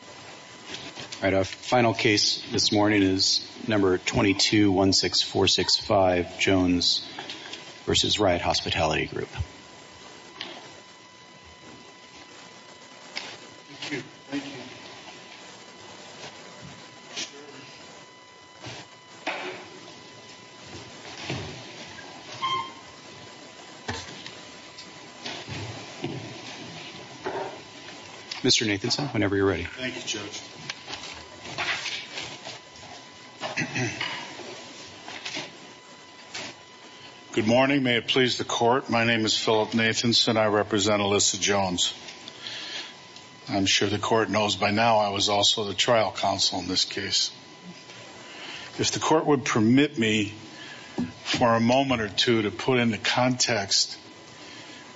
All right, our final case this morning is number 2216465 Jones v. Riot Hospitality Group. Mr. Nathanson, whenever you're ready. Thank you Judge. Good morning. May it please the court. My name is Philip Nathanson. I represent Alyssa Jones. I'm sure the court knows by now I was also the trial counsel in this case. If the court would permit me for a moment or two to put into context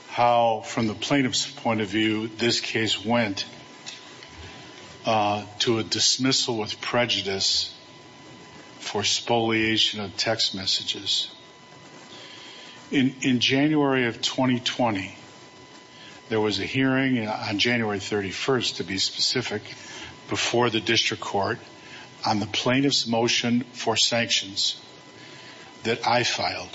how, from the plaintiff's point of view, this case went to a dismissal with prejudice for spoliation of text messages. In January of 2020, there was a hearing on January 31st, to be specific, before the district court on the plaintiff's motion for sanctions that I filed,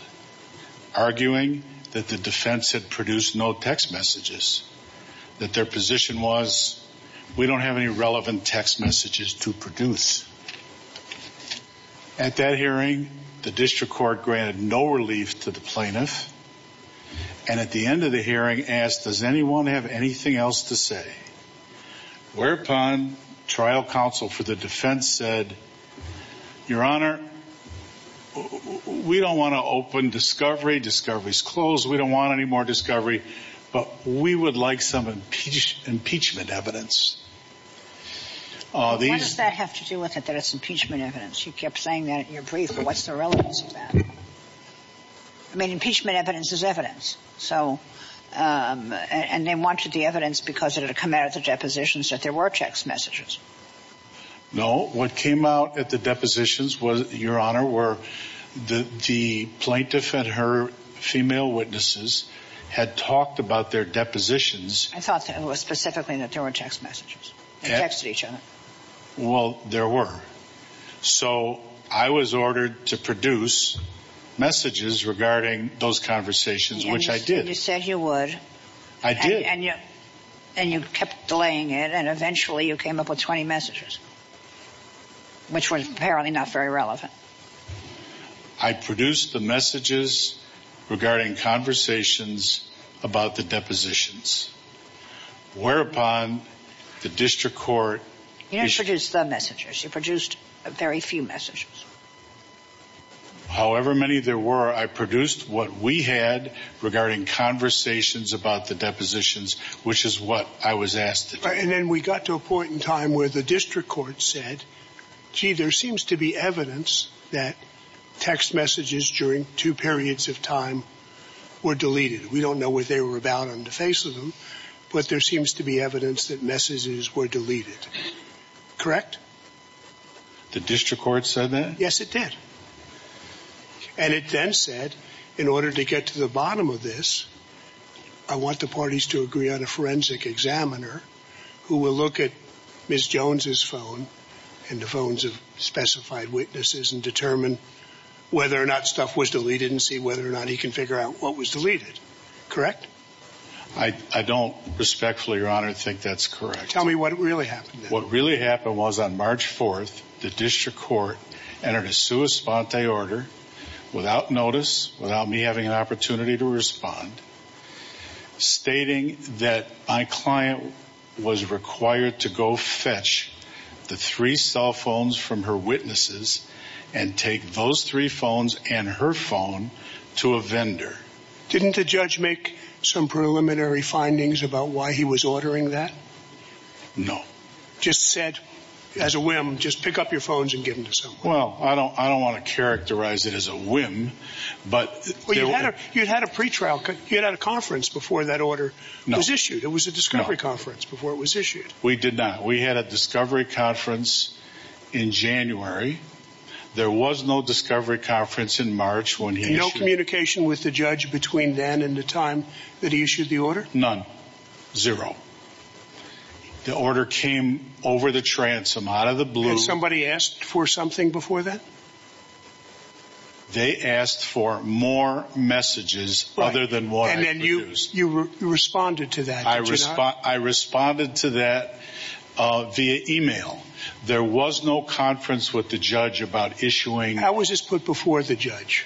arguing that the defense had produced no text messages. That their position was we don't have any relevant text messages to produce. At that hearing, the district court granted no relief to the plaintiff. And at the end of the hearing asked, does anyone have anything else to say? Whereupon, trial counsel for the defense said, Your Honor, we don't want to open discovery. Discovery's closed. We don't want any more discovery. But we would like some impeachment evidence. What does that have to do with it, that it's impeachment evidence? You kept saying that in your brief, but what's the relevance of that? I mean, impeachment evidence is evidence. And they wanted the evidence because it had come out at the depositions that there were text messages. No, what came out at the depositions was, Your Honor, where the plaintiff and her female witnesses had talked about their depositions. I thought specifically that there were text messages. They texted each other. Well, there were. So I was ordered to produce messages regarding those conversations, which I did. And you said you would. I did. And you kept delaying it. And eventually you came up with 20 messages, which were apparently not very relevant. I produced the messages regarding conversations about the depositions, whereupon the district court. You didn't produce the messages. You produced very few messages. However many there were, I produced what we had regarding conversations about the depositions, which is what I was asked to do. And then we got to a point in time where the district court said, gee, there seems to be evidence that text messages during two periods of time were deleted. We don't know what they were about on the face of them, but there seems to be evidence that messages were deleted. Correct? The district court said that? Yes, it did. And it then said, in order to get to the bottom of this, I want the parties to agree on a forensic examiner who will look at Ms. Jones's phone and the phones of specified witnesses and determine whether or not stuff was deleted and see whether or not he can figure out what was deleted. Correct? I don't respectfully, Your Honor, think that's correct. Tell me what really happened. What really happened was on March 4th, the district court entered a sua sponte order without notice, without me having an opportunity to respond, stating that my client was required to go fetch the three cell phones from her witnesses and take those three phones and her phone to a vendor. Didn't the judge make some preliminary findings about why he was ordering that? No. Just said, as a whim, just pick up your phones and give them to someone? Well, I don't want to characterize it as a whim, but... Well, you had a pre-trial, you had a conference before that order was issued. No. It was a discovery conference before it was issued. We did not. We had a discovery conference in January. There was no discovery conference in March when he issued it. No communication with the judge between then and the time that he issued the order? None. Zero. The order came over the transom, out of the blue. And somebody asked for something before that? They asked for more messages other than what I produced. And then you responded to that, did you not? I responded to that via email. There was no conference with the judge about issuing... How was this put before the judge?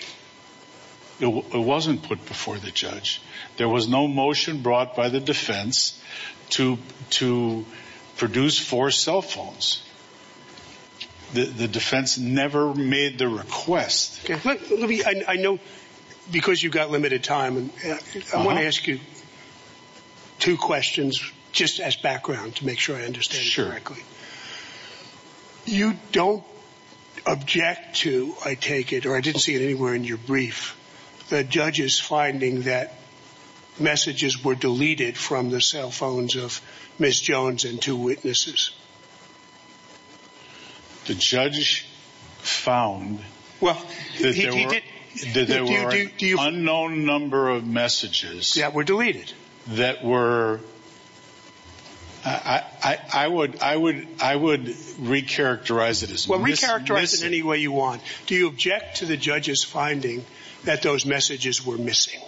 It wasn't put before the judge. There was no motion brought by the defense to produce four cell phones. The defense never made the request. I know, because you've got limited time, I want to ask you two questions, just as background, to make sure I understand it correctly. Sure. You don't object to, I take it, or I didn't see it anywhere in your brief, the judge's finding that messages were deleted from the cell phones of Ms. Jones and two witnesses? The judge found that there were an unknown number of messages... That were deleted? That were... I would re-characterize it as missing. Well, re-characterize it any way you want. Do you object to the judge's finding that those messages were missing?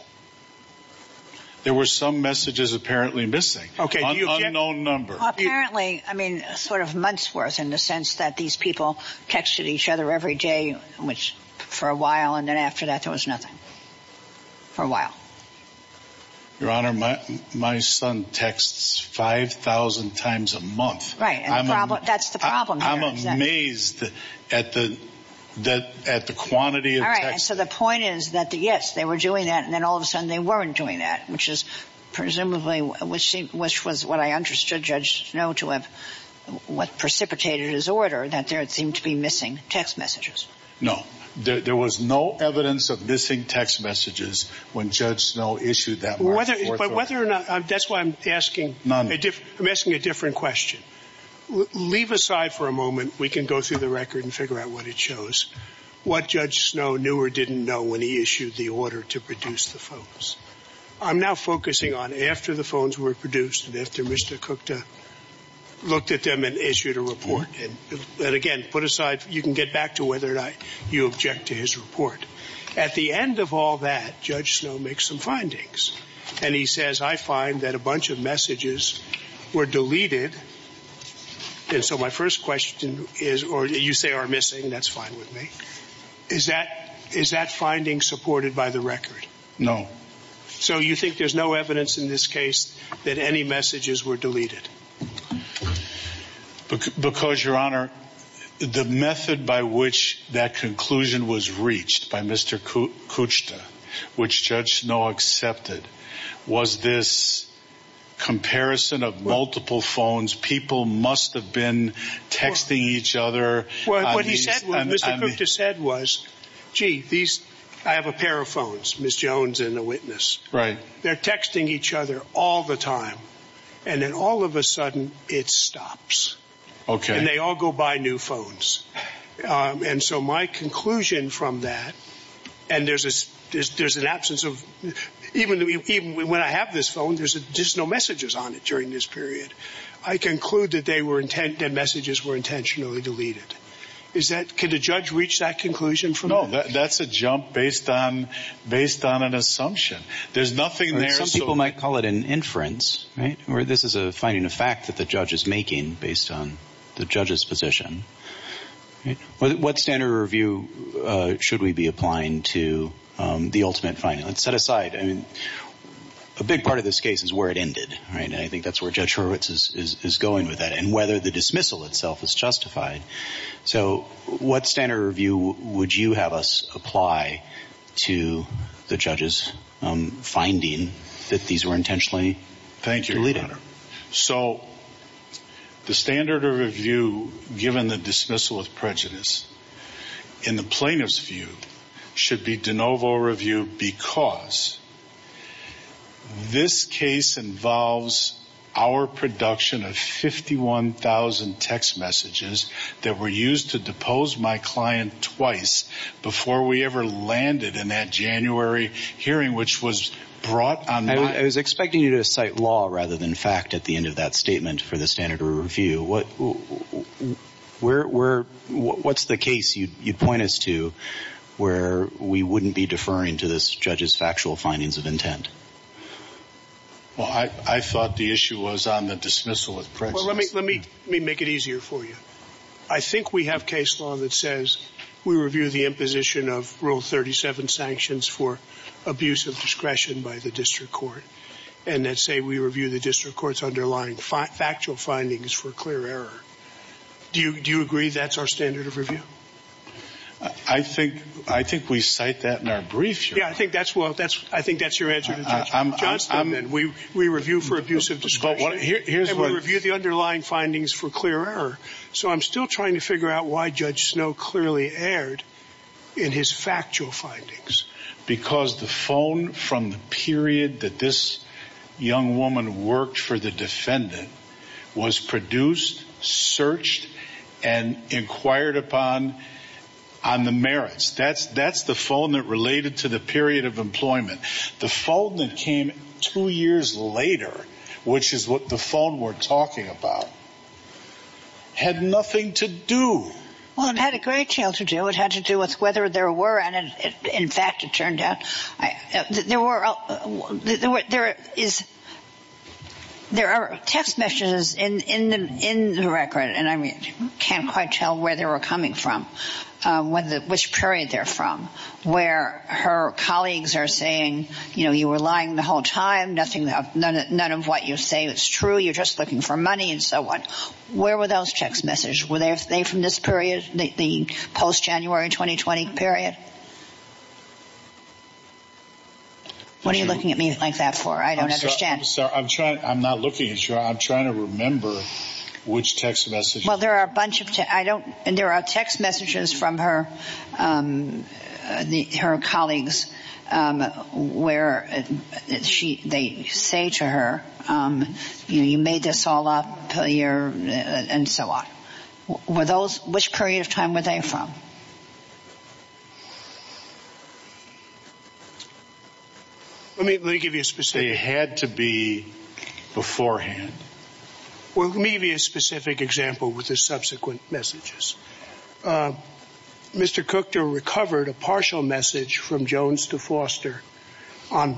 There were some messages apparently missing. An unknown number. Apparently, I mean, sort of months' worth, in the sense that these people texted each other every day for a while, and then after that there was nothing. For a while. Your Honor, my son texts 5,000 times a month. Right, and that's the problem here. I'm amazed at the quantity of texts. All right, so the point is that, yes, they were doing that, and then all of a sudden they weren't doing that. Which is presumably, which was what I understood Judge Snow to have precipitated his order, that there seemed to be missing text messages. No, there was no evidence of missing text messages when Judge Snow issued that order. Whether or not, that's why I'm asking a different question. Leave aside for a moment, we can go through the record and figure out what it shows. What Judge Snow knew or didn't know when he issued the order to produce the phones. I'm now focusing on after the phones were produced, and after Mr. Cook looked at them and issued a report. And again, put aside, you can get back to whether or not you object to his report. At the end of all that, Judge Snow makes some findings. And he says, I find that a bunch of messages were deleted. And so my first question is, or you say are missing, that's fine with me. Is that finding supported by the record? No. So you think there's no evidence in this case that any messages were deleted? Because, Your Honor, the method by which that conclusion was reached by Mr. Kuchta, which Judge Snow accepted, was this comparison of multiple phones. People must have been texting each other. What Mr. Kuchta said was, gee, I have a pair of phones, Ms. Jones and a witness. Right. They're texting each other all the time. And then all of a sudden, it stops. Okay. And they all go buy new phones. And so my conclusion from that, and there's an absence of, even when I have this phone, there's no messages on it during this period. I conclude that messages were intentionally deleted. Can the judge reach that conclusion from that? No. That's a jump based on an assumption. There's nothing there. Some people might call it an inference, right, where this is a finding of fact that the judge is making based on the judge's position. What standard of review should we be applying to the ultimate finding? Let's set aside, I mean, a big part of this case is where it ended, right? And I think that's where Judge Horowitz is going with that and whether the dismissal itself is justified. So what standard of review would you have us apply to the judge's finding that these were intentionally deleted? Thank you, Your Honor. So the standard of review, given the dismissal of prejudice, in the plaintiff's view, should be de novo review because this case involves our production of 51,000 text messages that were used to depose my client twice before we ever landed in that January hearing, which was brought on my – I was expecting you to cite law rather than fact at the end of that statement for the standard of review. What's the case you'd point us to where we wouldn't be deferring to this judge's factual findings of intent? Well, I thought the issue was on the dismissal of prejudice. Let me make it easier for you. I think we have case law that says we review the imposition of Rule 37 sanctions for abuse of discretion by the district court. And let's say we review the district court's underlying factual findings for clear error. Do you agree that's our standard of review? I think we cite that in our brief, Your Honor. Yeah, I think that's your answer to Judge Johnston. We review for abuse of discretion. And we review the underlying findings for clear error. So I'm still trying to figure out why Judge Snow clearly erred in his factual findings. Because the phone from the period that this young woman worked for the defendant was produced, searched, and inquired upon on the merits. That's the phone that related to the period of employment. The phone that came two years later, which is what the phone we're talking about, had nothing to do. Well, it had a great deal to do. It had to do with whether there were, and in fact it turned out there were, there is, there are text messages in the record. And I can't quite tell where they were coming from, which period they're from. Where her colleagues are saying, you know, you were lying the whole time. None of what you say is true. You're just looking for money and so on. Where were those text messages? Were they from this period, the post-January 2020 period? What are you looking at me like that for? I don't understand. I'm not looking at you. I'm trying to remember which text messages. Well, there are a bunch of text messages. There are text messages from her colleagues where they say to her, you know, you made this all up, and so on. Which period of time were they from? Let me give you a specific. They had to be beforehand. Well, let me give you a specific example with the subsequent messages. Mr. Cooke recovered a partial message from Jones to Foster on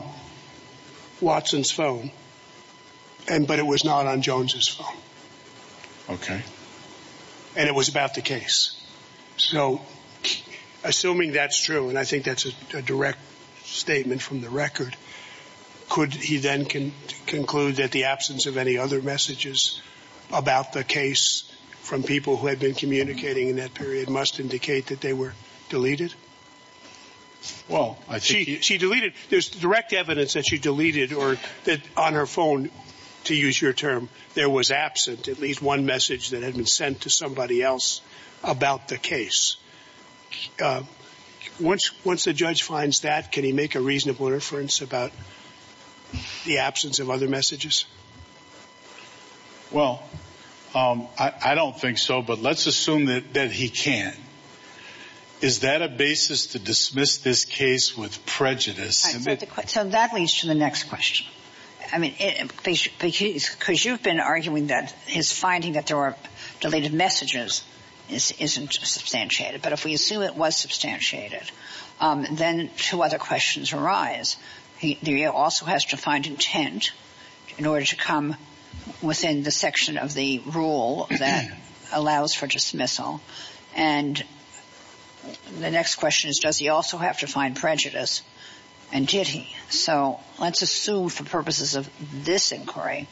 Watson's phone, but it was not on Jones's phone. Okay. And it was about the case. So, assuming that's true, and I think that's a direct statement from the record, could he then conclude that the absence of any other messages about the case from people who had been communicating in that period must indicate that they were deleted? Well, I think he – She deleted – there's direct evidence that she deleted or that on her phone, to use your term, there was absent at least one message that had been sent to somebody else about the case. Once the judge finds that, can he make a reasonable inference about the absence of other messages? Well, I don't think so, but let's assume that he can. Is that a basis to dismiss this case with prejudice? So that leads to the next question. I mean, because you've been arguing that his finding that there were deleted messages isn't substantiated. But if we assume it was substantiated, then two other questions arise. He also has to find intent in order to come within the section of the rule that allows for dismissal. And the next question is, does he also have to find prejudice, and did he? So let's assume for purposes of this inquiry,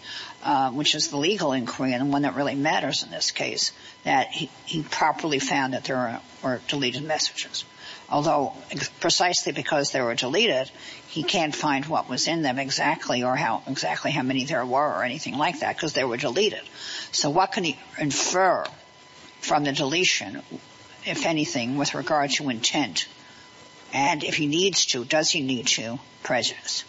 which is the legal inquiry and one that really matters in this case, that he properly found that there were deleted messages. Although precisely because they were deleted, he can't find what was in them exactly or how – exactly how many there were or anything like that because they were deleted. So what can he infer from the deletion, if anything, with regard to intent? And if he needs to, does he need to prejudice?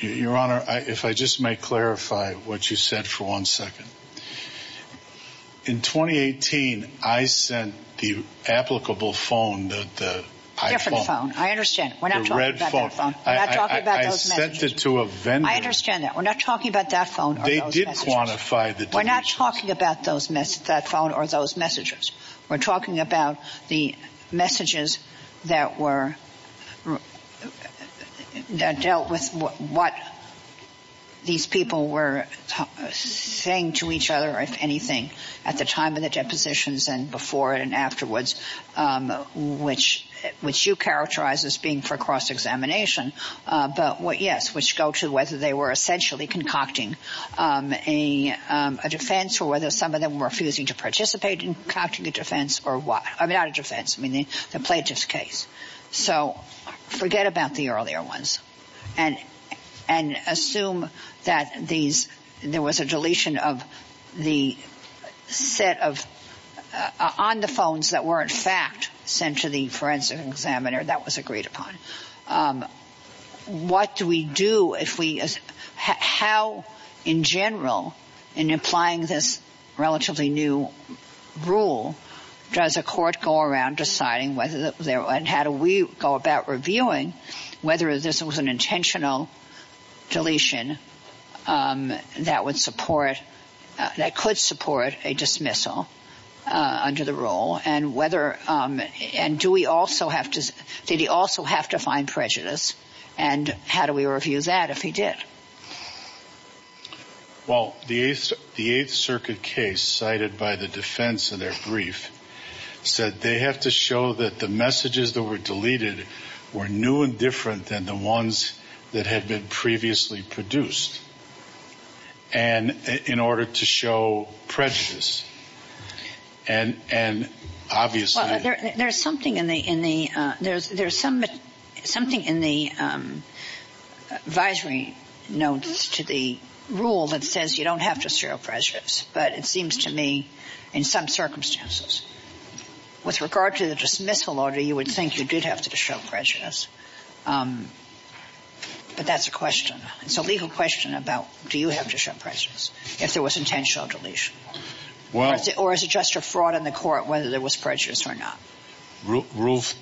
Your Honor, if I just may clarify what you said for one second. In 2018, I sent the applicable phone, the iPhone. Different phone. I understand. We're not talking about that phone. The red phone. We're not talking about those messages. I sent it to a vendor. I understand that. We're not talking about that phone or those messages. They did quantify the deletions. We're not talking about that phone or those messages. We're talking about the messages that were – that dealt with what these people were saying to each other, if anything, at the time of the depositions and before and afterwards, which you characterize as being for cross-examination. But, yes, which go to whether they were essentially concocting a defense or whether some of them were refusing to participate in concocting a defense or what. I mean, not a defense. I mean, the plaintiff's case. So forget about the earlier ones and assume that these – there was a deletion of the set of – on the phones that were, in fact, sent to the forensic examiner that was agreed upon. What do we do if we – how, in general, in applying this relatively new rule, does a court go around deciding whether – and how do we go about reviewing whether this was an intentional deletion that would support – that could support a dismissal under the rule? And whether – and do we also have to – did he also have to find prejudice? And how do we review that if he did? Well, the Eighth Circuit case cited by the defense in their brief said they have to show that the messages that were deleted were new and different than the ones that had been previously produced and in order to show prejudice. And obviously – Well, there's something in the – there's some – something in the advisory notes to the rule that says you don't have to show prejudice. But it seems to me, in some circumstances, with regard to the dismissal order, you would think you did have to show prejudice. But that's a question. It's a legal question about do you have to show prejudice if there was intentional deletion? Well – Or is it just a fraud in the court whether there was prejudice or not? Rule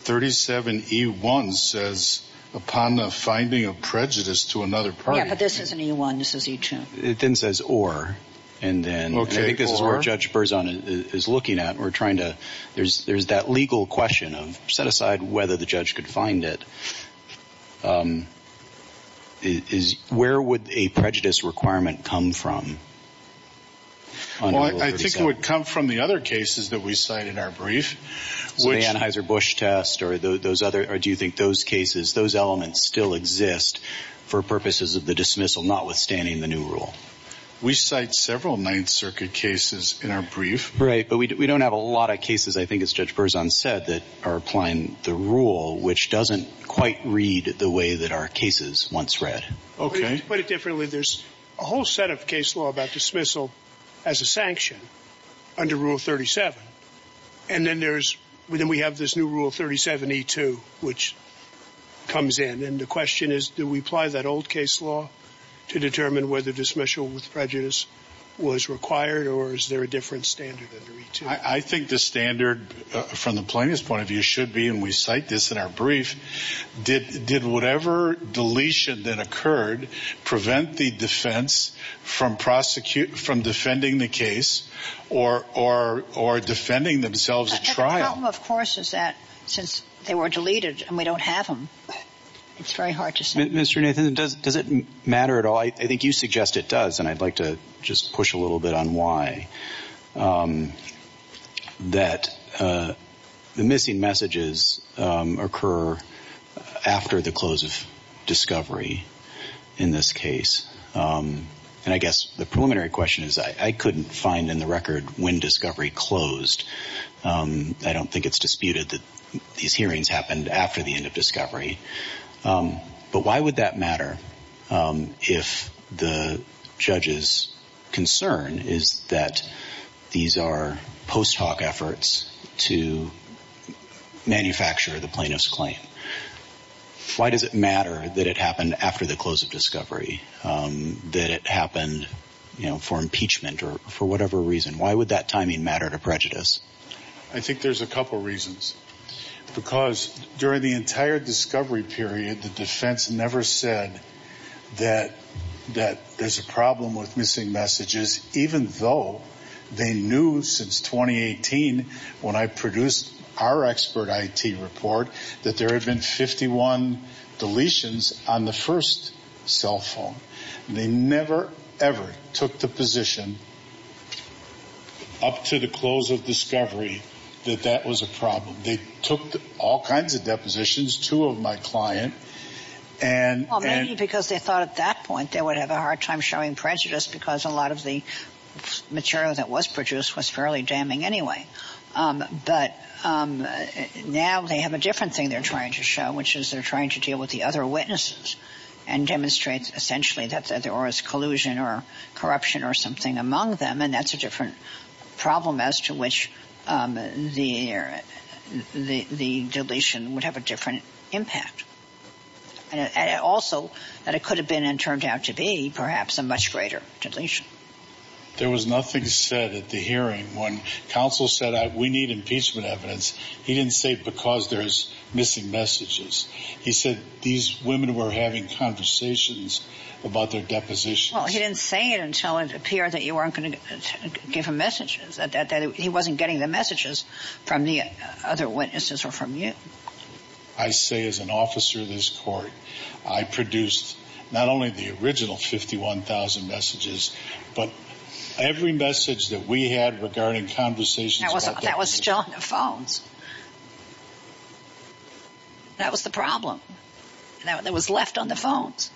37E1 says upon the finding of prejudice to another party – Yeah, but this isn't E1. This is E2. It then says or. And then – Okay, or? And I think this is where Judge Berzon is looking at. We're trying to – there's that legal question of set aside whether the judge could find it. Is – where would a prejudice requirement come from on Rule 37? Well, I think it would come from the other cases that we cite in our brief, which – The Anheuser-Busch test or those other – or do you think those cases, those elements still exist for purposes of the dismissal notwithstanding the new rule? We cite several Ninth Circuit cases in our brief. Right, but we don't have a lot of cases, I think as Judge Berzon said, that are applying the rule, which doesn't quite read the way that our cases once read. Okay. To put it differently, there's a whole set of case law about dismissal as a sanction under Rule 37. And then there's – then we have this new Rule 37E2, which comes in. And the question is do we apply that old case law to determine whether dismissal with prejudice was required or is there a different standard under E2? I think the standard from the plaintiff's point of view should be, and we cite this in our brief, did whatever deletion that occurred prevent the defense from prosecuting – from defending the case or defending themselves at trial? The problem, of course, is that since they were deleted and we don't have them, it's very hard to say. Mr. Nathan, does it matter at all? Well, I think you suggest it does, and I'd like to just push a little bit on why, that the missing messages occur after the close of discovery in this case. And I guess the preliminary question is I couldn't find in the record when discovery closed. I don't think it's disputed that these hearings happened after the end of discovery. But why would that matter if the judge's concern is that these are post-hoc efforts to manufacture the plaintiff's claim? Why does it matter that it happened after the close of discovery, that it happened for impeachment or for whatever reason? Why would that timing matter to prejudice? I think there's a couple reasons. Because during the entire discovery period, the defense never said that there's a problem with missing messages, even though they knew since 2018, when I produced our expert IT report, that there had been 51 deletions on the first cell phone. They never, ever took the position up to the close of discovery that that was a problem. They took all kinds of depositions, two of my client. Well, maybe because they thought at that point they would have a hard time showing prejudice because a lot of the material that was produced was fairly damning anyway. But now they have a different thing they're trying to show, which is they're trying to deal with the other witnesses and demonstrate, essentially, that there was collusion or corruption or something among them. And that's a different problem as to which the deletion would have a different impact. And also that it could have been and turned out to be perhaps a much greater deletion. There was nothing said at the hearing. When counsel said we need impeachment evidence, he didn't say because there's missing messages. He said these women were having conversations about their depositions. Well, he didn't say it until it appeared that you weren't going to give him messages, that he wasn't getting the messages from the other witnesses or from you. I say as an officer of this court, I produced not only the original 51,000 messages, but every message that we had regarding conversations about their depositions. That was still on their phones. That was the problem that was left on their phones.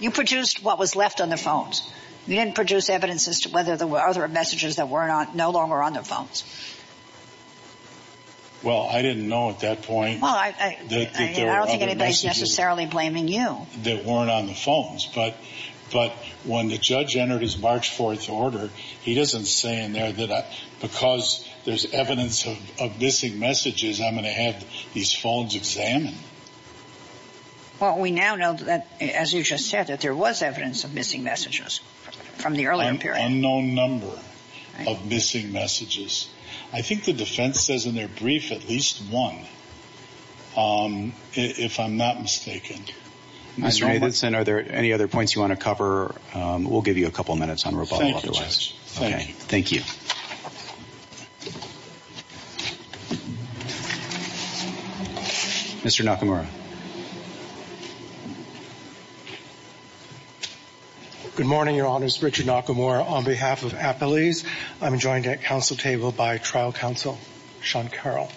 You produced what was left on their phones. You didn't produce evidence as to whether there were other messages that were no longer on their phones. Well, I didn't know at that point that there were other messages. I don't think anybody's necessarily blaming you. They weren't on the phones, but when the judge entered his March 4th order, he doesn't say in there that because there's evidence of missing messages, I'm going to have these phones examined. Well, we now know that, as you just said, that there was evidence of missing messages from the earlier period. An unknown number of missing messages. I think the defense says in their brief at least one, if I'm not mistaken. Mr. Nathanson, are there any other points you want to cover? We'll give you a couple of minutes on rebuttal otherwise. Thank you, Judge. Thank you. Thank you. Mr. Nakamura. Good morning, Your Honors. Richard Nakamura on behalf of Appalese. I'm joined at council table by trial counsel Sean Carroll.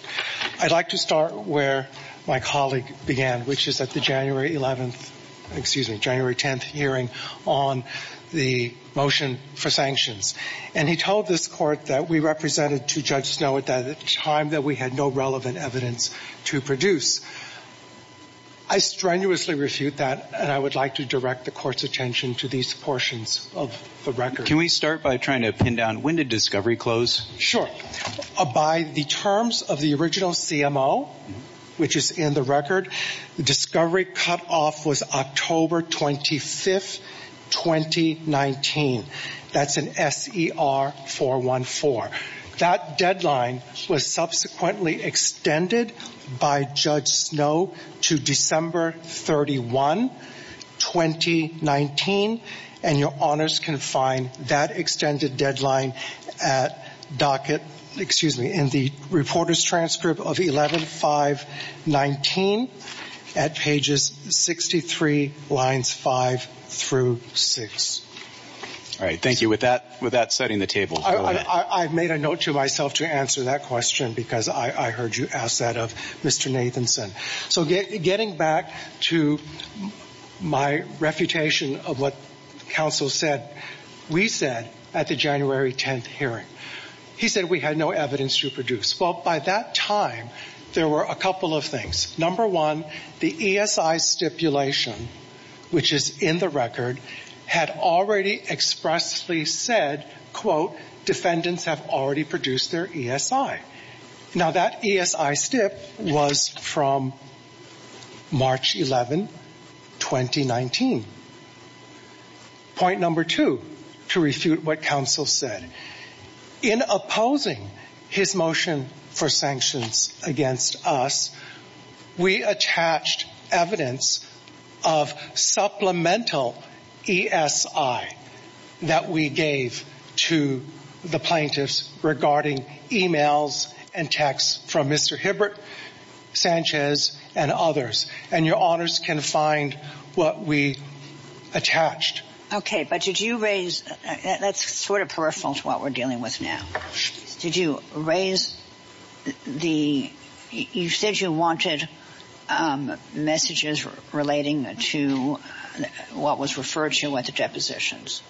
I'd like to start where my colleague began, which is at the January 11th, excuse me, January 10th hearing on the motion for sanctions. And he told this court that we represented to Judge Snow at the time that we had no relevant evidence to produce. I strenuously refute that, and I would like to direct the court's attention to these portions of the record. Can we start by trying to pin down when did discovery close? Sure. By the terms of the original CMO, which is in the record, the discovery cutoff was October 25th, 2019. That's an SER-414. That deadline was subsequently extended by Judge Snow to December 31, 2019. And Your Honors can find that extended deadline at docket, excuse me, in the reporter's transcript of 11-5-19 at pages 63, lines 5 through 6. All right. Thank you. With that setting the table. I've made a note to myself to answer that question because I heard you ask that of Mr. Nathanson. So getting back to my refutation of what counsel said, we said at the January 10th hearing, he said we had no evidence to produce. Well, by that time, there were a couple of things. Number one, the ESI stipulation, which is in the record, had already expressly said, quote, defendants have already produced their ESI. Now, that ESI stip was from March 11, 2019. Point number two, to refute what counsel said. In opposing his motion for sanctions against us, we attached evidence of supplemental ESI that we gave to the plaintiffs regarding emails and texts from Mr. Hibbert, Sanchez, and others. And your honors can find what we attached. Okay. But did you raise, that's sort of peripheral to what we're dealing with now. Did you raise the, you said you wanted messages relating to what was referred to at the depositions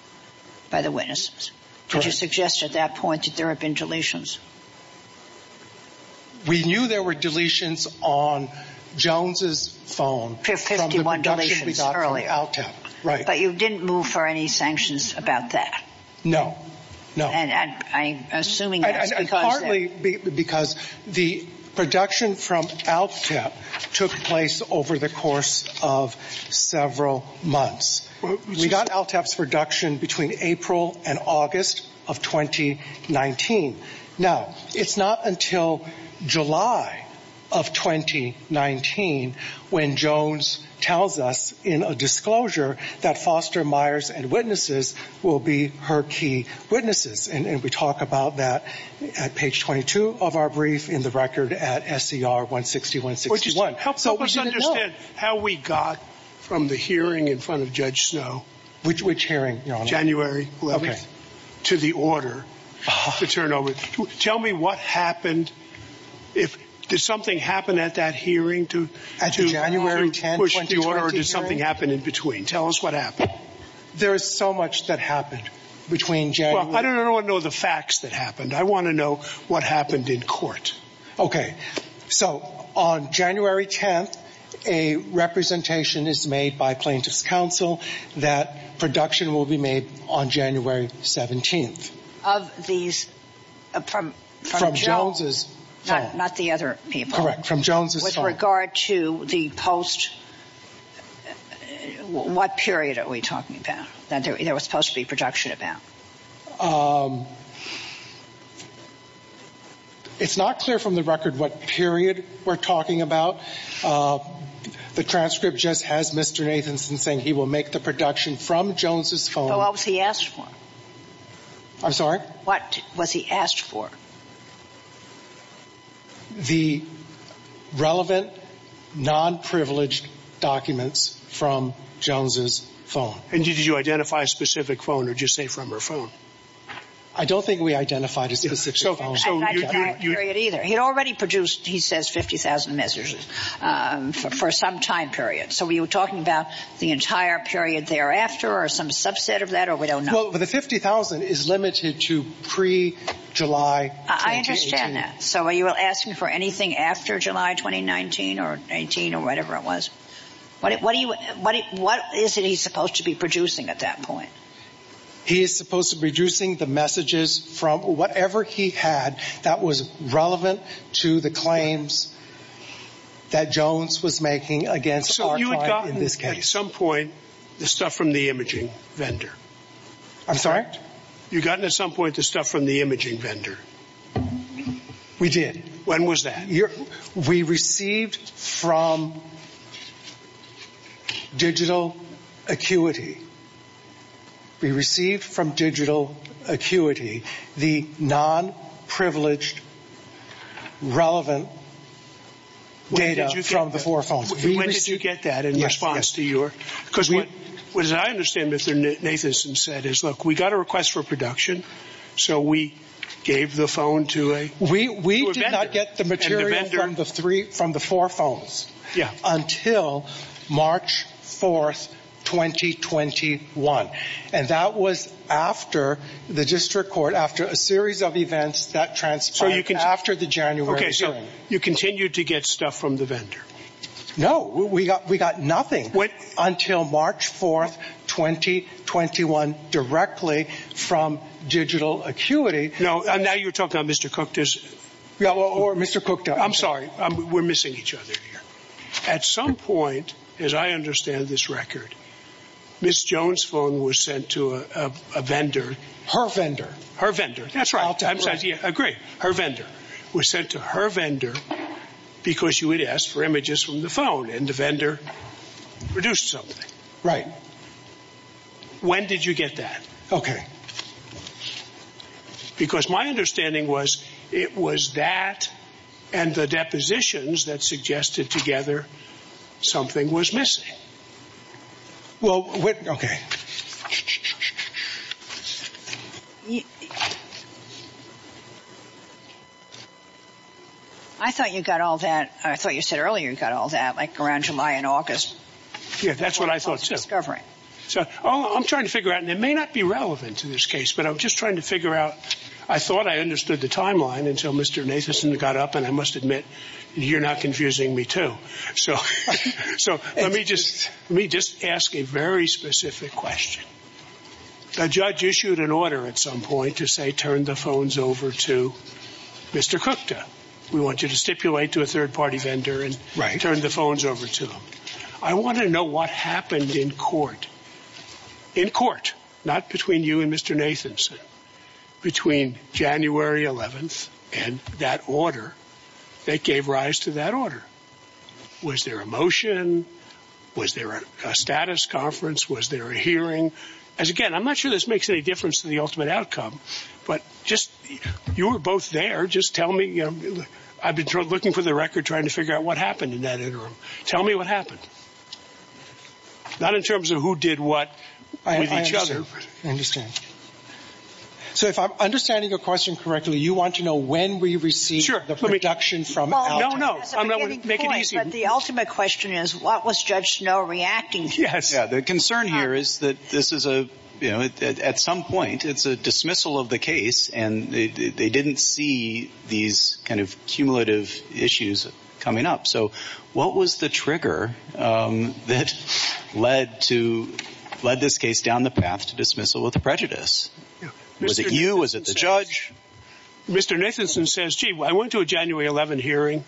by the witnesses. Did you suggest at that point that there had been deletions? We knew there were deletions on Jones's phone. 51 deletions early. Right. But you didn't move for any sanctions about that. No, no. And I'm assuming that's because. Partly because the production from ALTEP took place over the course of several months. We got ALTEP's production between April and August of 2019. Now, it's not until July of 2019 when Jones tells us in a disclosure that Foster Myers and witnesses will be her key witnesses. And we talk about that at page 22 of our brief in the record at SCR 160-161. Help us understand how we got from the hearing in front of Judge Snow. Which hearing, your honor? January 11th. To the order to turn over. Tell me what happened. Did something happen at that hearing to push the order or did something happen in between? Tell us what happened. There is so much that happened between January. I don't want to know the facts that happened. I want to know what happened in court. Okay. So, on January 10th, a representation is made by plaintiff's counsel that production will be made on January 17th. Of these. From Jones's phone. Not the other people. Correct. From Jones's phone. With regard to the post. What period are we talking about that there was supposed to be production about? It's not clear from the record what period we're talking about. The transcript just has Mr. Nathanson saying he will make the production from Jones's phone. What was he asked for? I'm sorry? What was he asked for? The relevant, non-privileged documents from Jones's phone. And did you identify a specific phone or did you say from her phone? I don't think we identified a specific phone. He already produced, he says, 50,000 messages for some time period. So, were you talking about the entire period thereafter or some subset of that or we don't know? Well, the 50,000 is limited to pre-July 2018. I understand that. So, are you asking for anything after July 2019 or 19 or whatever it was? What is it he's supposed to be producing at that point? He is supposed to be producing the messages from whatever he had that was relevant to the claims that Jones was making against Archive in this case. So, you had gotten at some point the stuff from the imaging vendor? I'm sorry? You had gotten at some point the stuff from the imaging vendor? We did. When was that? We received from Digital Acuity. We received from Digital Acuity the non-privileged, relevant data from the four phones. When did you get that in response to your? Because what I understand Mr. Nathanson said is, look, we got a request for production. We did not get the material from the four phones until March 4th, 2021. And that was after the district court, after a series of events that transpired after the January hearing. Okay, so you continued to get stuff from the vendor? No, we got nothing until March 4th, 2021 directly from Digital Acuity. No, now you're talking about Mr. Cook. Or Mr. Cook. I'm sorry, we're missing each other here. At some point, as I understand this record, Ms. Jones' phone was sent to a vendor. Her vendor. Her vendor. That's right. I agree. Her vendor was sent to her vendor because she would ask for images from the phone and the vendor produced something. Right. When did you get that? Okay. Because my understanding was it was that and the depositions that suggested together something was missing. Well, okay. I thought you got all that. I thought you said earlier you got all that, like around July and August. Yeah, that's what I thought too. So I'm trying to figure out, and it may not be relevant to this case, but I'm just trying to figure out, I thought I understood the timeline until Mr. Nathanson got up, and I must admit, you're not confusing me too. So let me just ask a very specific question. A judge issued an order at some point to say turn the phones over to Mr. Cook. We want you to stipulate to a third-party vendor and turn the phones over to him. I want to know what happened in court. In court, not between you and Mr. Nathanson, between January 11th and that order that gave rise to that order. Was there a motion? Was there a status conference? Was there a hearing? Again, I'm not sure this makes any difference to the ultimate outcome, but just you were both there. Just tell me. I've been looking for the record trying to figure out what happened in that interim. Tell me what happened. Not in terms of who did what with each other. I understand. So if I'm understanding your question correctly, you want to know when we received the production from Alton. No, no. I'm not going to make it easy. But the ultimate question is what was Judge Snow reacting to? Yes. The concern here is that this is a, you know, at some point it's a dismissal of the case, and they didn't see these kind of cumulative issues coming up. So what was the trigger that led this case down the path to dismissal with prejudice? Was it you? Was it the judge? Mr. Nathanson says, gee, I went to a January 11th hearing.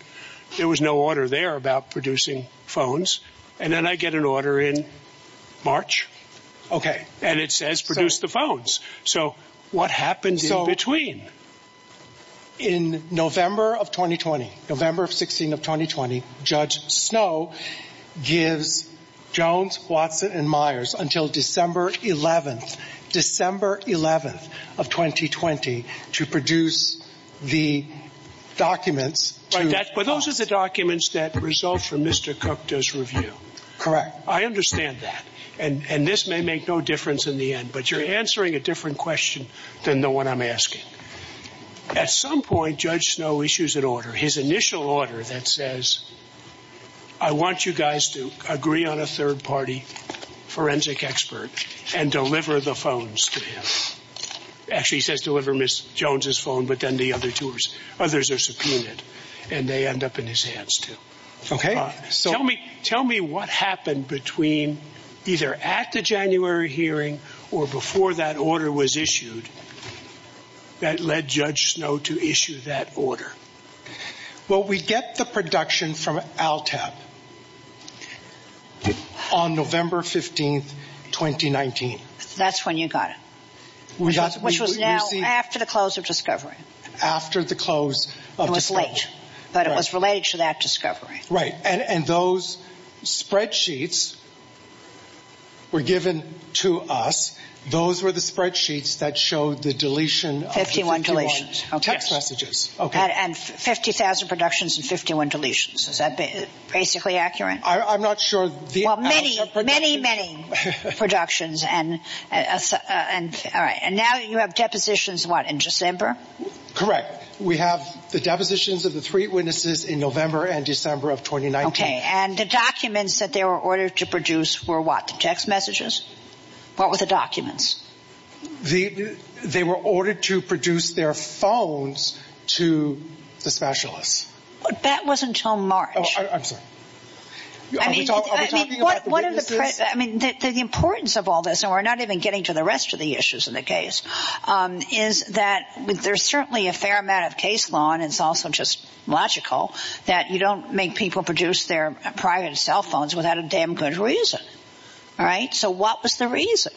There was no order there about producing phones. And then I get an order in March. Okay. And it says produce the phones. So what happened in between? In November of 2020, November 16 of 2020, Judge Snow gives Jones, Watson, and Myers until December 11th, December 11th of 2020 to produce the documents. But those are the documents that result from Mr. Cook does review. Correct. I understand that. And this may make no difference in the end. But you're answering a different question than the one I'm asking. At some point, Judge Snow issues an order, his initial order that says, I want you guys to agree on a third-party forensic expert and deliver the phones to him. Actually, he says deliver Ms. Jones' phone, but then the other two, others are subpoenaed, Okay. Tell me what happened between either at the January hearing or before that order was issued that led Judge Snow to issue that order. Well, we get the production from ALTAP on November 15th, 2019. That's when you got it, which was now after the close of discovery. After the close of discovery. It was late, but it was related to that discovery. Right. And those spreadsheets were given to us. Those were the spreadsheets that showed the deletion. 51 deletions. Text messages. And 50,000 productions and 51 deletions. Is that basically accurate? I'm not sure. Well, many, many, many productions. And now you have depositions, what, in December? Correct. We have the depositions of the three witnesses in November and December of 2019. Okay. And the documents that they were ordered to produce were what, the text messages? What were the documents? They were ordered to produce their phones to the specialists. That was until March. I'm sorry. Are we talking about the witnesses? I mean, the importance of all this, and we're not even getting to the rest of the issues in the case, is that there's certainly a fair amount of case law, and it's also just logical, that you don't make people produce their private cell phones without a damn good reason. All right. So what was the reason?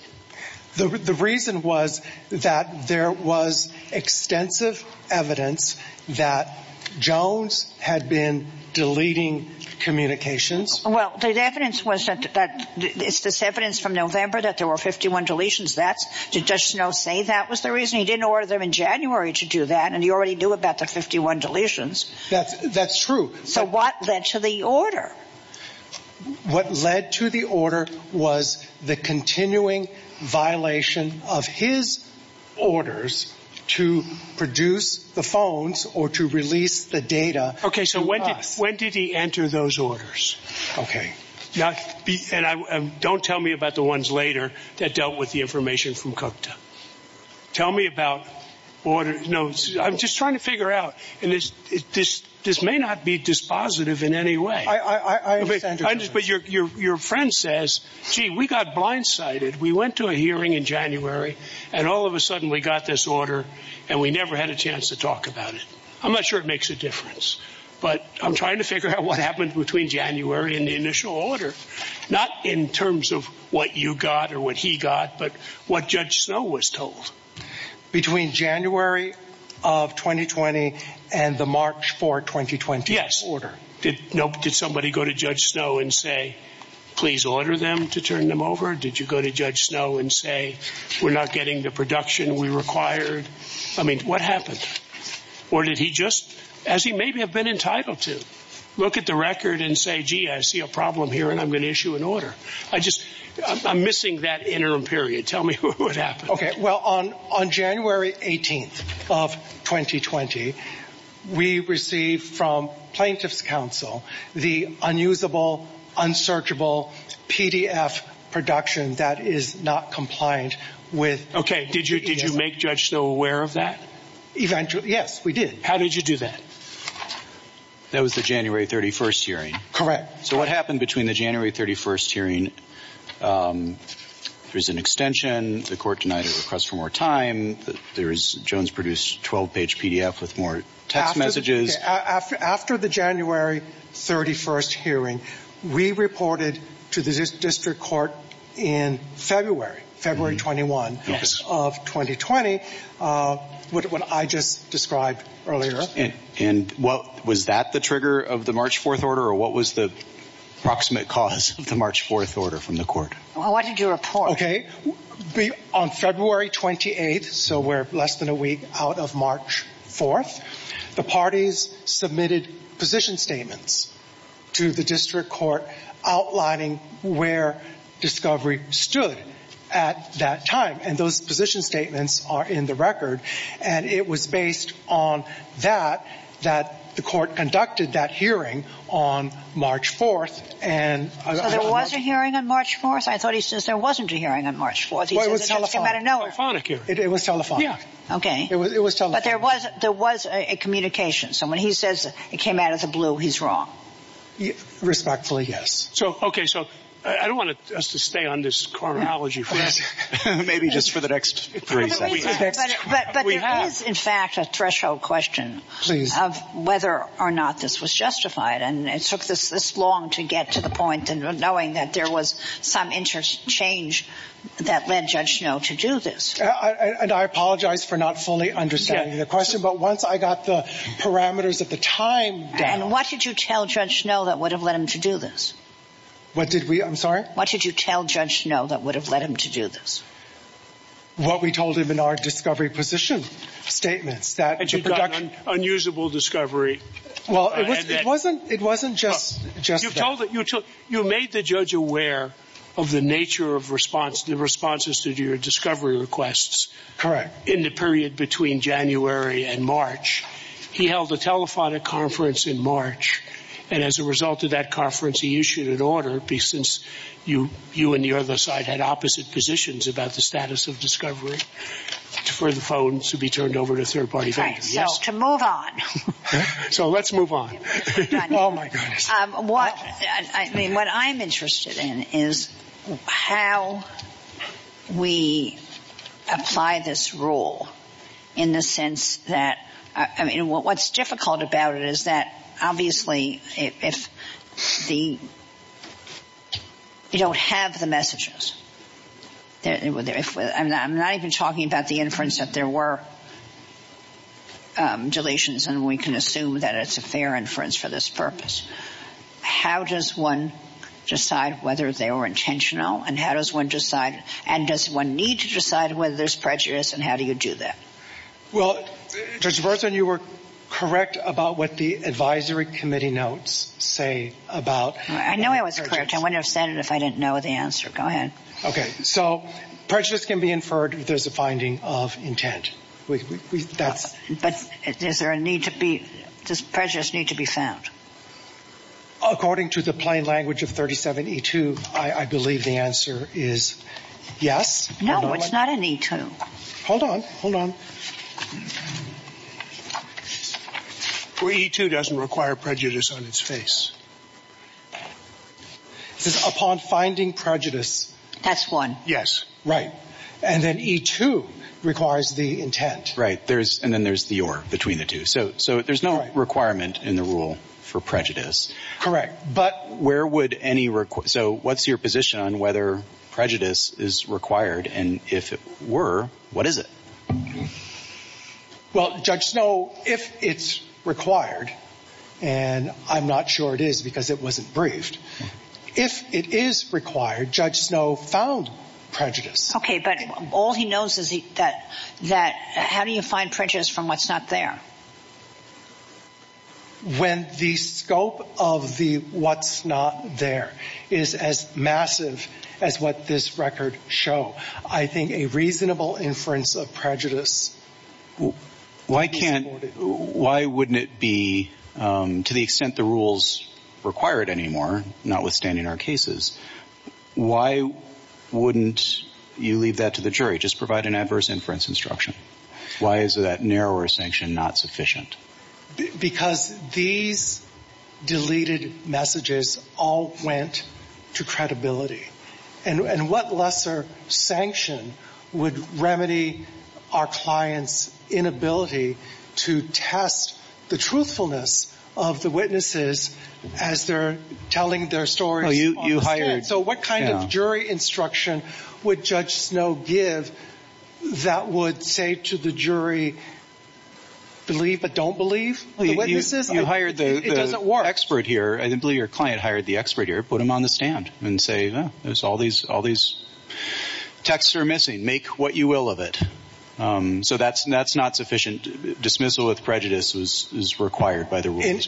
The reason was that there was extensive evidence that Jones had been deleting communications. Well, the evidence was that it's this evidence from November that there were 51 deletions. That's, did Judge Snow say that was the reason? He didn't order them in January to do that, and he already knew about the 51 deletions. That's true. So what led to the order? What led to the order was the continuing violation of his orders to produce the phones or to release the data. Okay. So when did he enter those orders? Okay. Now, don't tell me about the ones later that dealt with the information from Cocteau. Tell me about orders. No, I'm just trying to figure out, and this may not be dispositive in any way. I understand your point. But your friend says, gee, we got blindsided. We went to a hearing in January, and all of a sudden we got this order, and we never had a chance to talk about it. I'm not sure it makes a difference. But I'm trying to figure out what happened between January and the initial order, not in terms of what you got or what he got, but what Judge Snow was told. Between January of 2020 and the March 4, 2020 order. Yes. Did somebody go to Judge Snow and say, please order them to turn them over? Did you go to Judge Snow and say, we're not getting the production we required? I mean, what happened? Or did he just, as he may have been entitled to, look at the record and say, gee, I see a problem here, and I'm going to issue an order. I just, I'm missing that interim period. Tell me what happened. Well, on January 18th of 2020, we received from Plaintiff's Counsel the unusable, unsearchable PDF production that is not compliant with... Okay, did you make Judge Snow aware of that? Eventually, yes, we did. How did you do that? That was the January 31st hearing. Correct. So what happened between the January 31st hearing, there was an extension, the court denied a request for more time, Jones produced a 12-page PDF with more text messages. After the January 31st hearing, we reported to the District Court in February, February 21st of 2020, what I just described earlier. And was that the trigger of the March 4th order, or what was the approximate cause of the March 4th order from the court? What did you report? Okay, on February 28th, so we're less than a week out of March 4th, the parties submitted position statements to the District Court outlining where Discovery stood at that time, and those position statements are in the record, and it was based on that that the court conducted that hearing on March 4th. So there was a hearing on March 4th? I thought he says there wasn't a hearing on March 4th. Well, it was a telephonic hearing. It was telephonic. Okay, but there was a communication, so when he says it came out of the blue, he's wrong. Respectfully, yes. Okay, so I don't want us to stay on this chronology. Maybe just for the next three seconds. But there is, in fact, a threshold question of whether or not this was justified, and it took this long to get to the point in knowing that there was some interchange that led Judge Snow to do this. And I apologize for not fully understanding the question, but once I got the parameters of the time down. And what did you tell Judge Snow that would have led him to do this? What did we? I'm sorry? What did you tell Judge Snow that would have led him to do this? What we told him in our discovery position statements. That you'd gotten unusable discovery. Well, it wasn't just that. You made the judge aware of the nature of the responses to your discovery requests. Correct. In the period between January and March. He held a telephonic conference in March, and as a result of that conference he issued an order, since you and the other side had opposite positions about the status of discovery, for the phones to be turned over to third-party vendors. Right, so to move on. So let's move on. Oh, my goodness. What I'm interested in is how we apply this rule in the sense that, I mean, what's difficult about it is that, obviously, if you don't have the messages. I'm not even talking about the inference that there were deletions, and we can assume that it's a fair inference for this purpose. How does one decide whether they were intentional? And how does one decide, and does one need to decide whether there's prejudice, and how do you do that? Well, Judge Berzin, you were correct about what the advisory committee notes say about prejudice. I know I was correct. I wouldn't have said it if I didn't know the answer. Go ahead. Okay, so prejudice can be inferred if there's a finding of intent. But does prejudice need to be found? According to the plain language of 37E2, I believe the answer is yes. No, it's not an E2. Hold on, hold on. Well, E2 doesn't require prejudice on its face. It says upon finding prejudice. That's one. Yes, right. And then E2 requires the intent. Right, and then there's the or between the two. So there's no requirement in the rule for prejudice. Correct. But where would any—so what's your position on whether prejudice is required? And if it were, what is it? Well, Judge Snow, if it's required, and I'm not sure it is because it wasn't briefed, if it is required, Judge Snow found prejudice. Okay, but all he knows is that how do you find prejudice from what's not there? When the scope of the what's not there is as massive as what this record show, I think a reasonable inference of prejudice— Why can't—why wouldn't it be, to the extent the rules require it anymore, notwithstanding our cases, why wouldn't you leave that to the jury, just provide an adverse inference instruction? Why is that narrower sanction not sufficient? Because these deleted messages all went to credibility. And what lesser sanction would remedy our client's inability to test the truthfulness of the witnesses as they're telling their stories on the stand? Oh, you hired— So what kind of jury instruction would Judge Snow give that would say to the jury, believe but don't believe the witnesses? You hired the— It doesn't work. I didn't believe your client hired the expert here. Put him on the stand and say, no, there's all these texts are missing. Make what you will of it. So that's not sufficient. Dismissal with prejudice is required by the rules.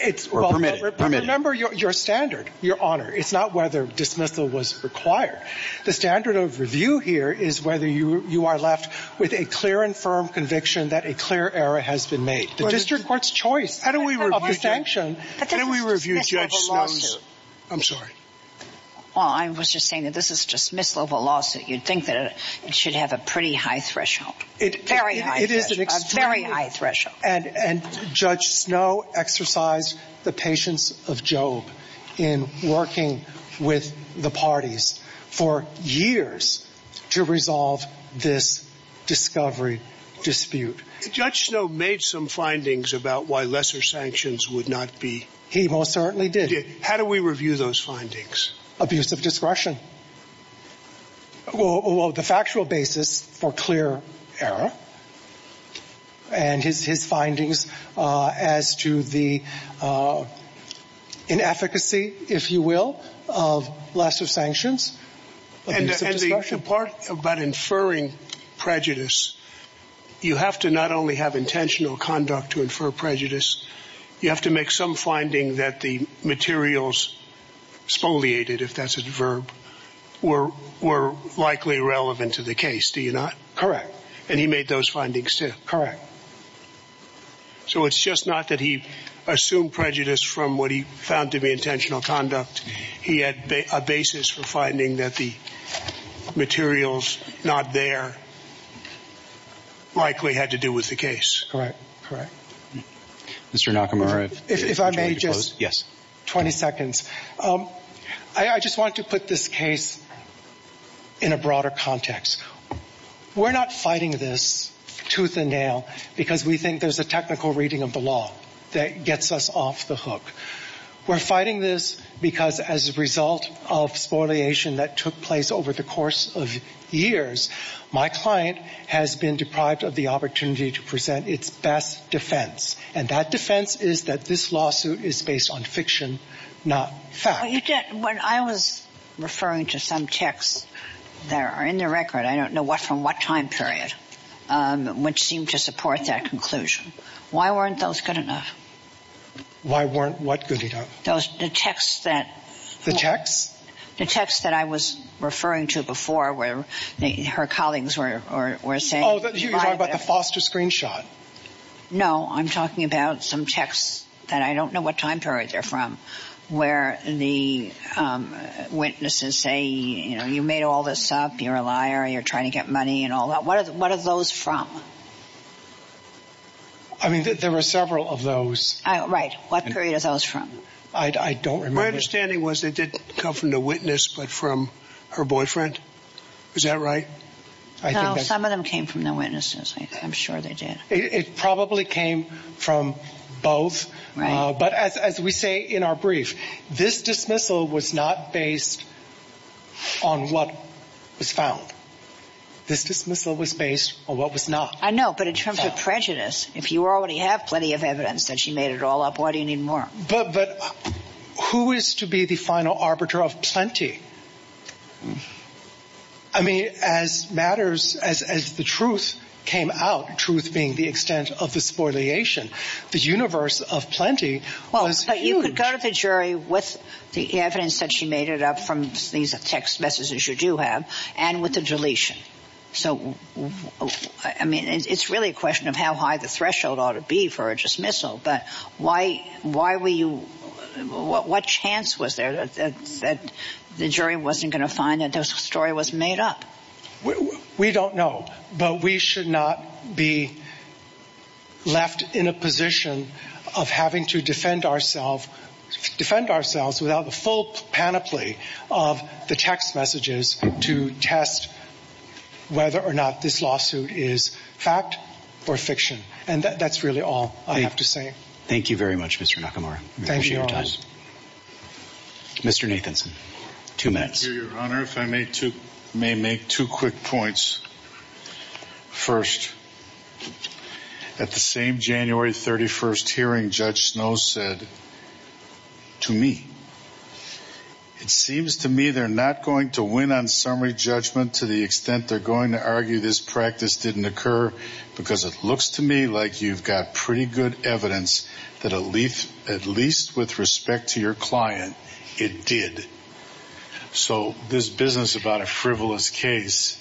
It's— Or permitted. Remember your standard, Your Honor. It's not whether dismissal was required. The standard of review here is whether you are left with a clear and firm conviction that a clear error has been made. The district court's choice of the sanction— But this is a dismissal of a lawsuit. I'm sorry. Well, I was just saying that this is a dismissal of a lawsuit. You'd think that it should have a pretty high threshold. Very high threshold. A very high threshold. And Judge Snow exercised the patience of Job in working with the parties for years to resolve this discovery dispute. Judge Snow made some findings about why lesser sanctions would not be— He most certainly did. How do we review those findings? Abuse of discretion. Well, the factual basis for clear error and his findings as to the inefficacy, if you will, of lesser sanctions, abuse of discretion. And the part about inferring prejudice, you have to not only have intentional conduct to infer prejudice, you have to make some finding that the materials spoliated, if that's a verb, were likely relevant to the case. Do you not? Correct. And he made those findings too. Correct. So it's just not that he assumed prejudice from what he found to be intentional conduct. He had a basis for finding that the materials not there likely had to do with the case. Correct. Correct. Mr. Nakamura. If I may just— Yes. 20 seconds. I just want to put this case in a broader context. We're not fighting this tooth and nail because we think there's a technical reading of the law that gets us off the hook. We're fighting this because as a result of spoliation that took place over the course of years, my client has been deprived of the opportunity to present its best defense. And that defense is that this lawsuit is based on fiction, not fact. When I was referring to some texts that are in the record, I don't know from what time period, which seemed to support that conclusion. Why weren't those good enough? Why weren't what good enough? The texts that— The texts? The texts that I was referring to before where her colleagues were saying— Oh, you're talking about the Foster screenshot. No, I'm talking about some texts that I don't know what time period they're from where the witnesses say, you know, you made all this up, you're a liar, you're trying to get money and all that. What are those from? I mean, there were several of those. Right. What period are those from? I don't remember. My understanding was they didn't come from the witness but from her boyfriend. Is that right? No, some of them came from the witnesses. I'm sure they did. It probably came from both. Right. But as we say in our brief, this dismissal was not based on what was found. This dismissal was based on what was not. I know, but in terms of prejudice, if you already have plenty of evidence that she made it all up, why do you need more? But who is to be the final arbiter of plenty? I mean, as matters, as the truth came out, truth being the extent of the spoliation, the universe of plenty was huge. Well, but you could go to the jury with the evidence that she made it up from these text messages you do have and with the deletion. So, I mean, it's really a question of how high the threshold ought to be for a dismissal. But why were you, what chance was there that the jury wasn't going to find that the story was made up? We don't know, but we should not be left in a position of having to defend ourselves without the full panoply of the text messages to test whether or not this lawsuit is fact or fiction. And that's really all I have to say. Thank you very much, Mr. Nakamura. Thank you. Mr. Nathanson, two minutes. Your Honor, if I may make two quick points. First, at the same January 31st hearing, Judge Snow said to me, it seems to me they're not going to win on summary judgment to the extent they're going to argue this practice didn't occur because it looks to me like you've got pretty good evidence that at least with respect to your client, it did. So, this business about a frivolous case…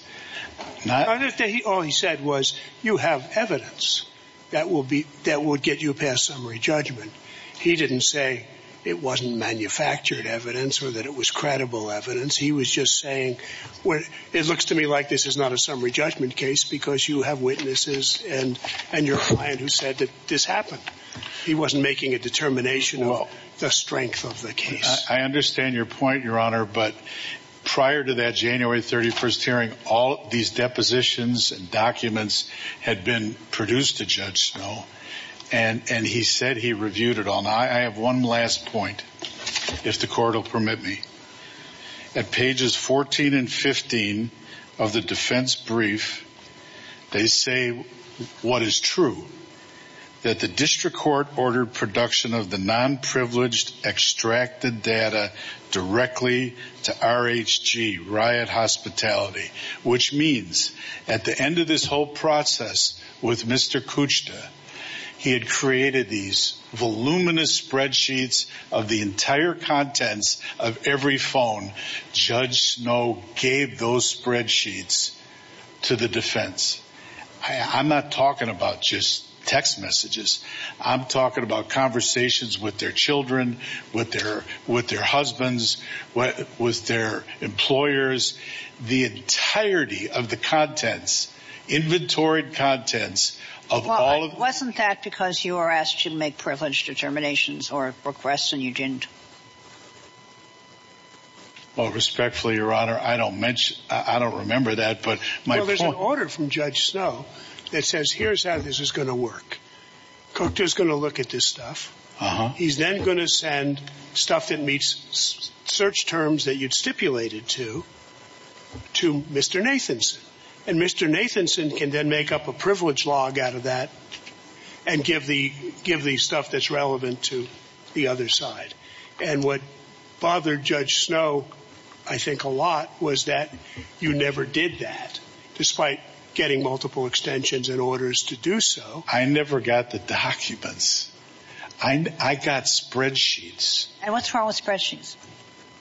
All he said was, you have evidence that will get you past summary judgment. He didn't say it wasn't manufactured evidence or that it was credible evidence. He was just saying, it looks to me like this is not a summary judgment case because you have witnesses and your client who said that this happened. He wasn't making a determination of the strength of the case. I understand your point, Your Honor, but prior to that January 31st hearing, all these depositions and documents had been produced to Judge Snow. And he said he reviewed it all. Now, I have one last point, if the Court will permit me. At pages 14 and 15 of the defense brief, they say what is true, that the district court ordered production of the non-privileged extracted data directly to RHG, Riot Hospitality. Which means, at the end of this whole process with Mr. Kuchta, he had created these voluminous spreadsheets of the entire contents of every phone Judge Snow gave those spreadsheets to the defense. I'm not talking about just text messages. I'm talking about conversations with their children, with their husbands, with their employers. The entirety of the contents, inventory contents of all of... Wasn't that because you were asked to make privileged determinations or requests and you didn't? Well, respectfully, Your Honor, I don't remember that, but my point... There's an order from Judge Snow that says here's how this is going to work. Kuchta's going to look at this stuff. He's then going to send stuff that meets search terms that you'd stipulated to, to Mr. Nathanson. And Mr. Nathanson can then make up a privilege log out of that and give the stuff that's relevant to the other side. And what bothered Judge Snow, I think, a lot was that you never did that, despite getting multiple extensions and orders to do so. I never got the documents. I got spreadsheets. And what's wrong with spreadsheets?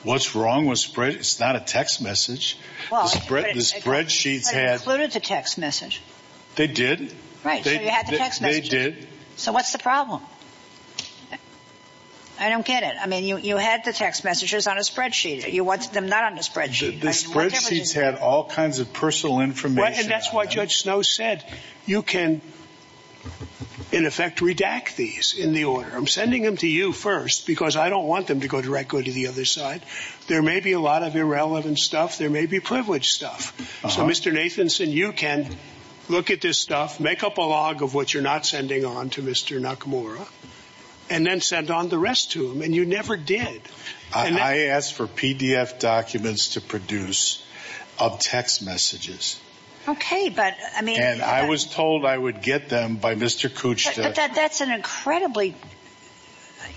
What's wrong with spreadsheets? It's not a text message. The spreadsheets had... But it included the text message. They did. They did. So what's the problem? I don't get it. I mean, you had the text messages on a spreadsheet. You wanted them not on a spreadsheet. The spreadsheets had all kinds of personal information. And that's what Judge Snow said. You can, in effect, redact these in the order. I'm sending them to you first because I don't want them to go directly to the other side. There may be a lot of irrelevant stuff. There may be privilege stuff. So, Mr. Nathanson, you can look at this stuff, make up a log of what you're not sending on to Mr. Nakamura, and then send on the rest to him. And you never did. I asked for PDF documents to produce of text messages. Okay, but, I mean... And I was told I would get them by Mr. Kuchta. But that's an incredibly,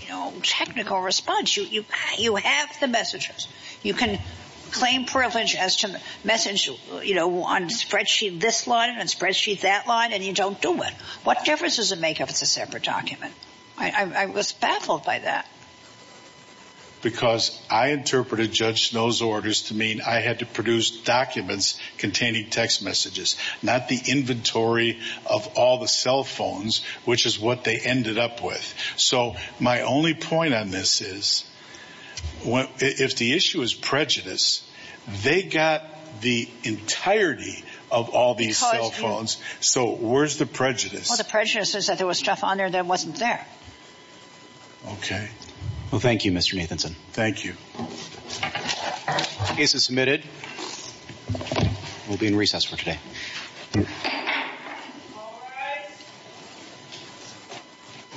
you know, technical response. You have the messages. You can claim privilege as to message, you know, on a spreadsheet this line, on a spreadsheet that line, and you don't do it. What difference does it make if it's a separate document? I was baffled by that. Because I interpreted Judge Snow's orders to mean I had to produce documents containing text messages, not the inventory of all the cell phones, which is what they ended up with. So, my only point on this is, if the issue is prejudice, they got the entirety of all these cell phones. So, where's the prejudice? Well, the prejudice is that there was stuff on there that wasn't there. Okay. Well, thank you, Mr. Nathanson. Thank you. Case is submitted. We'll be in recess for today.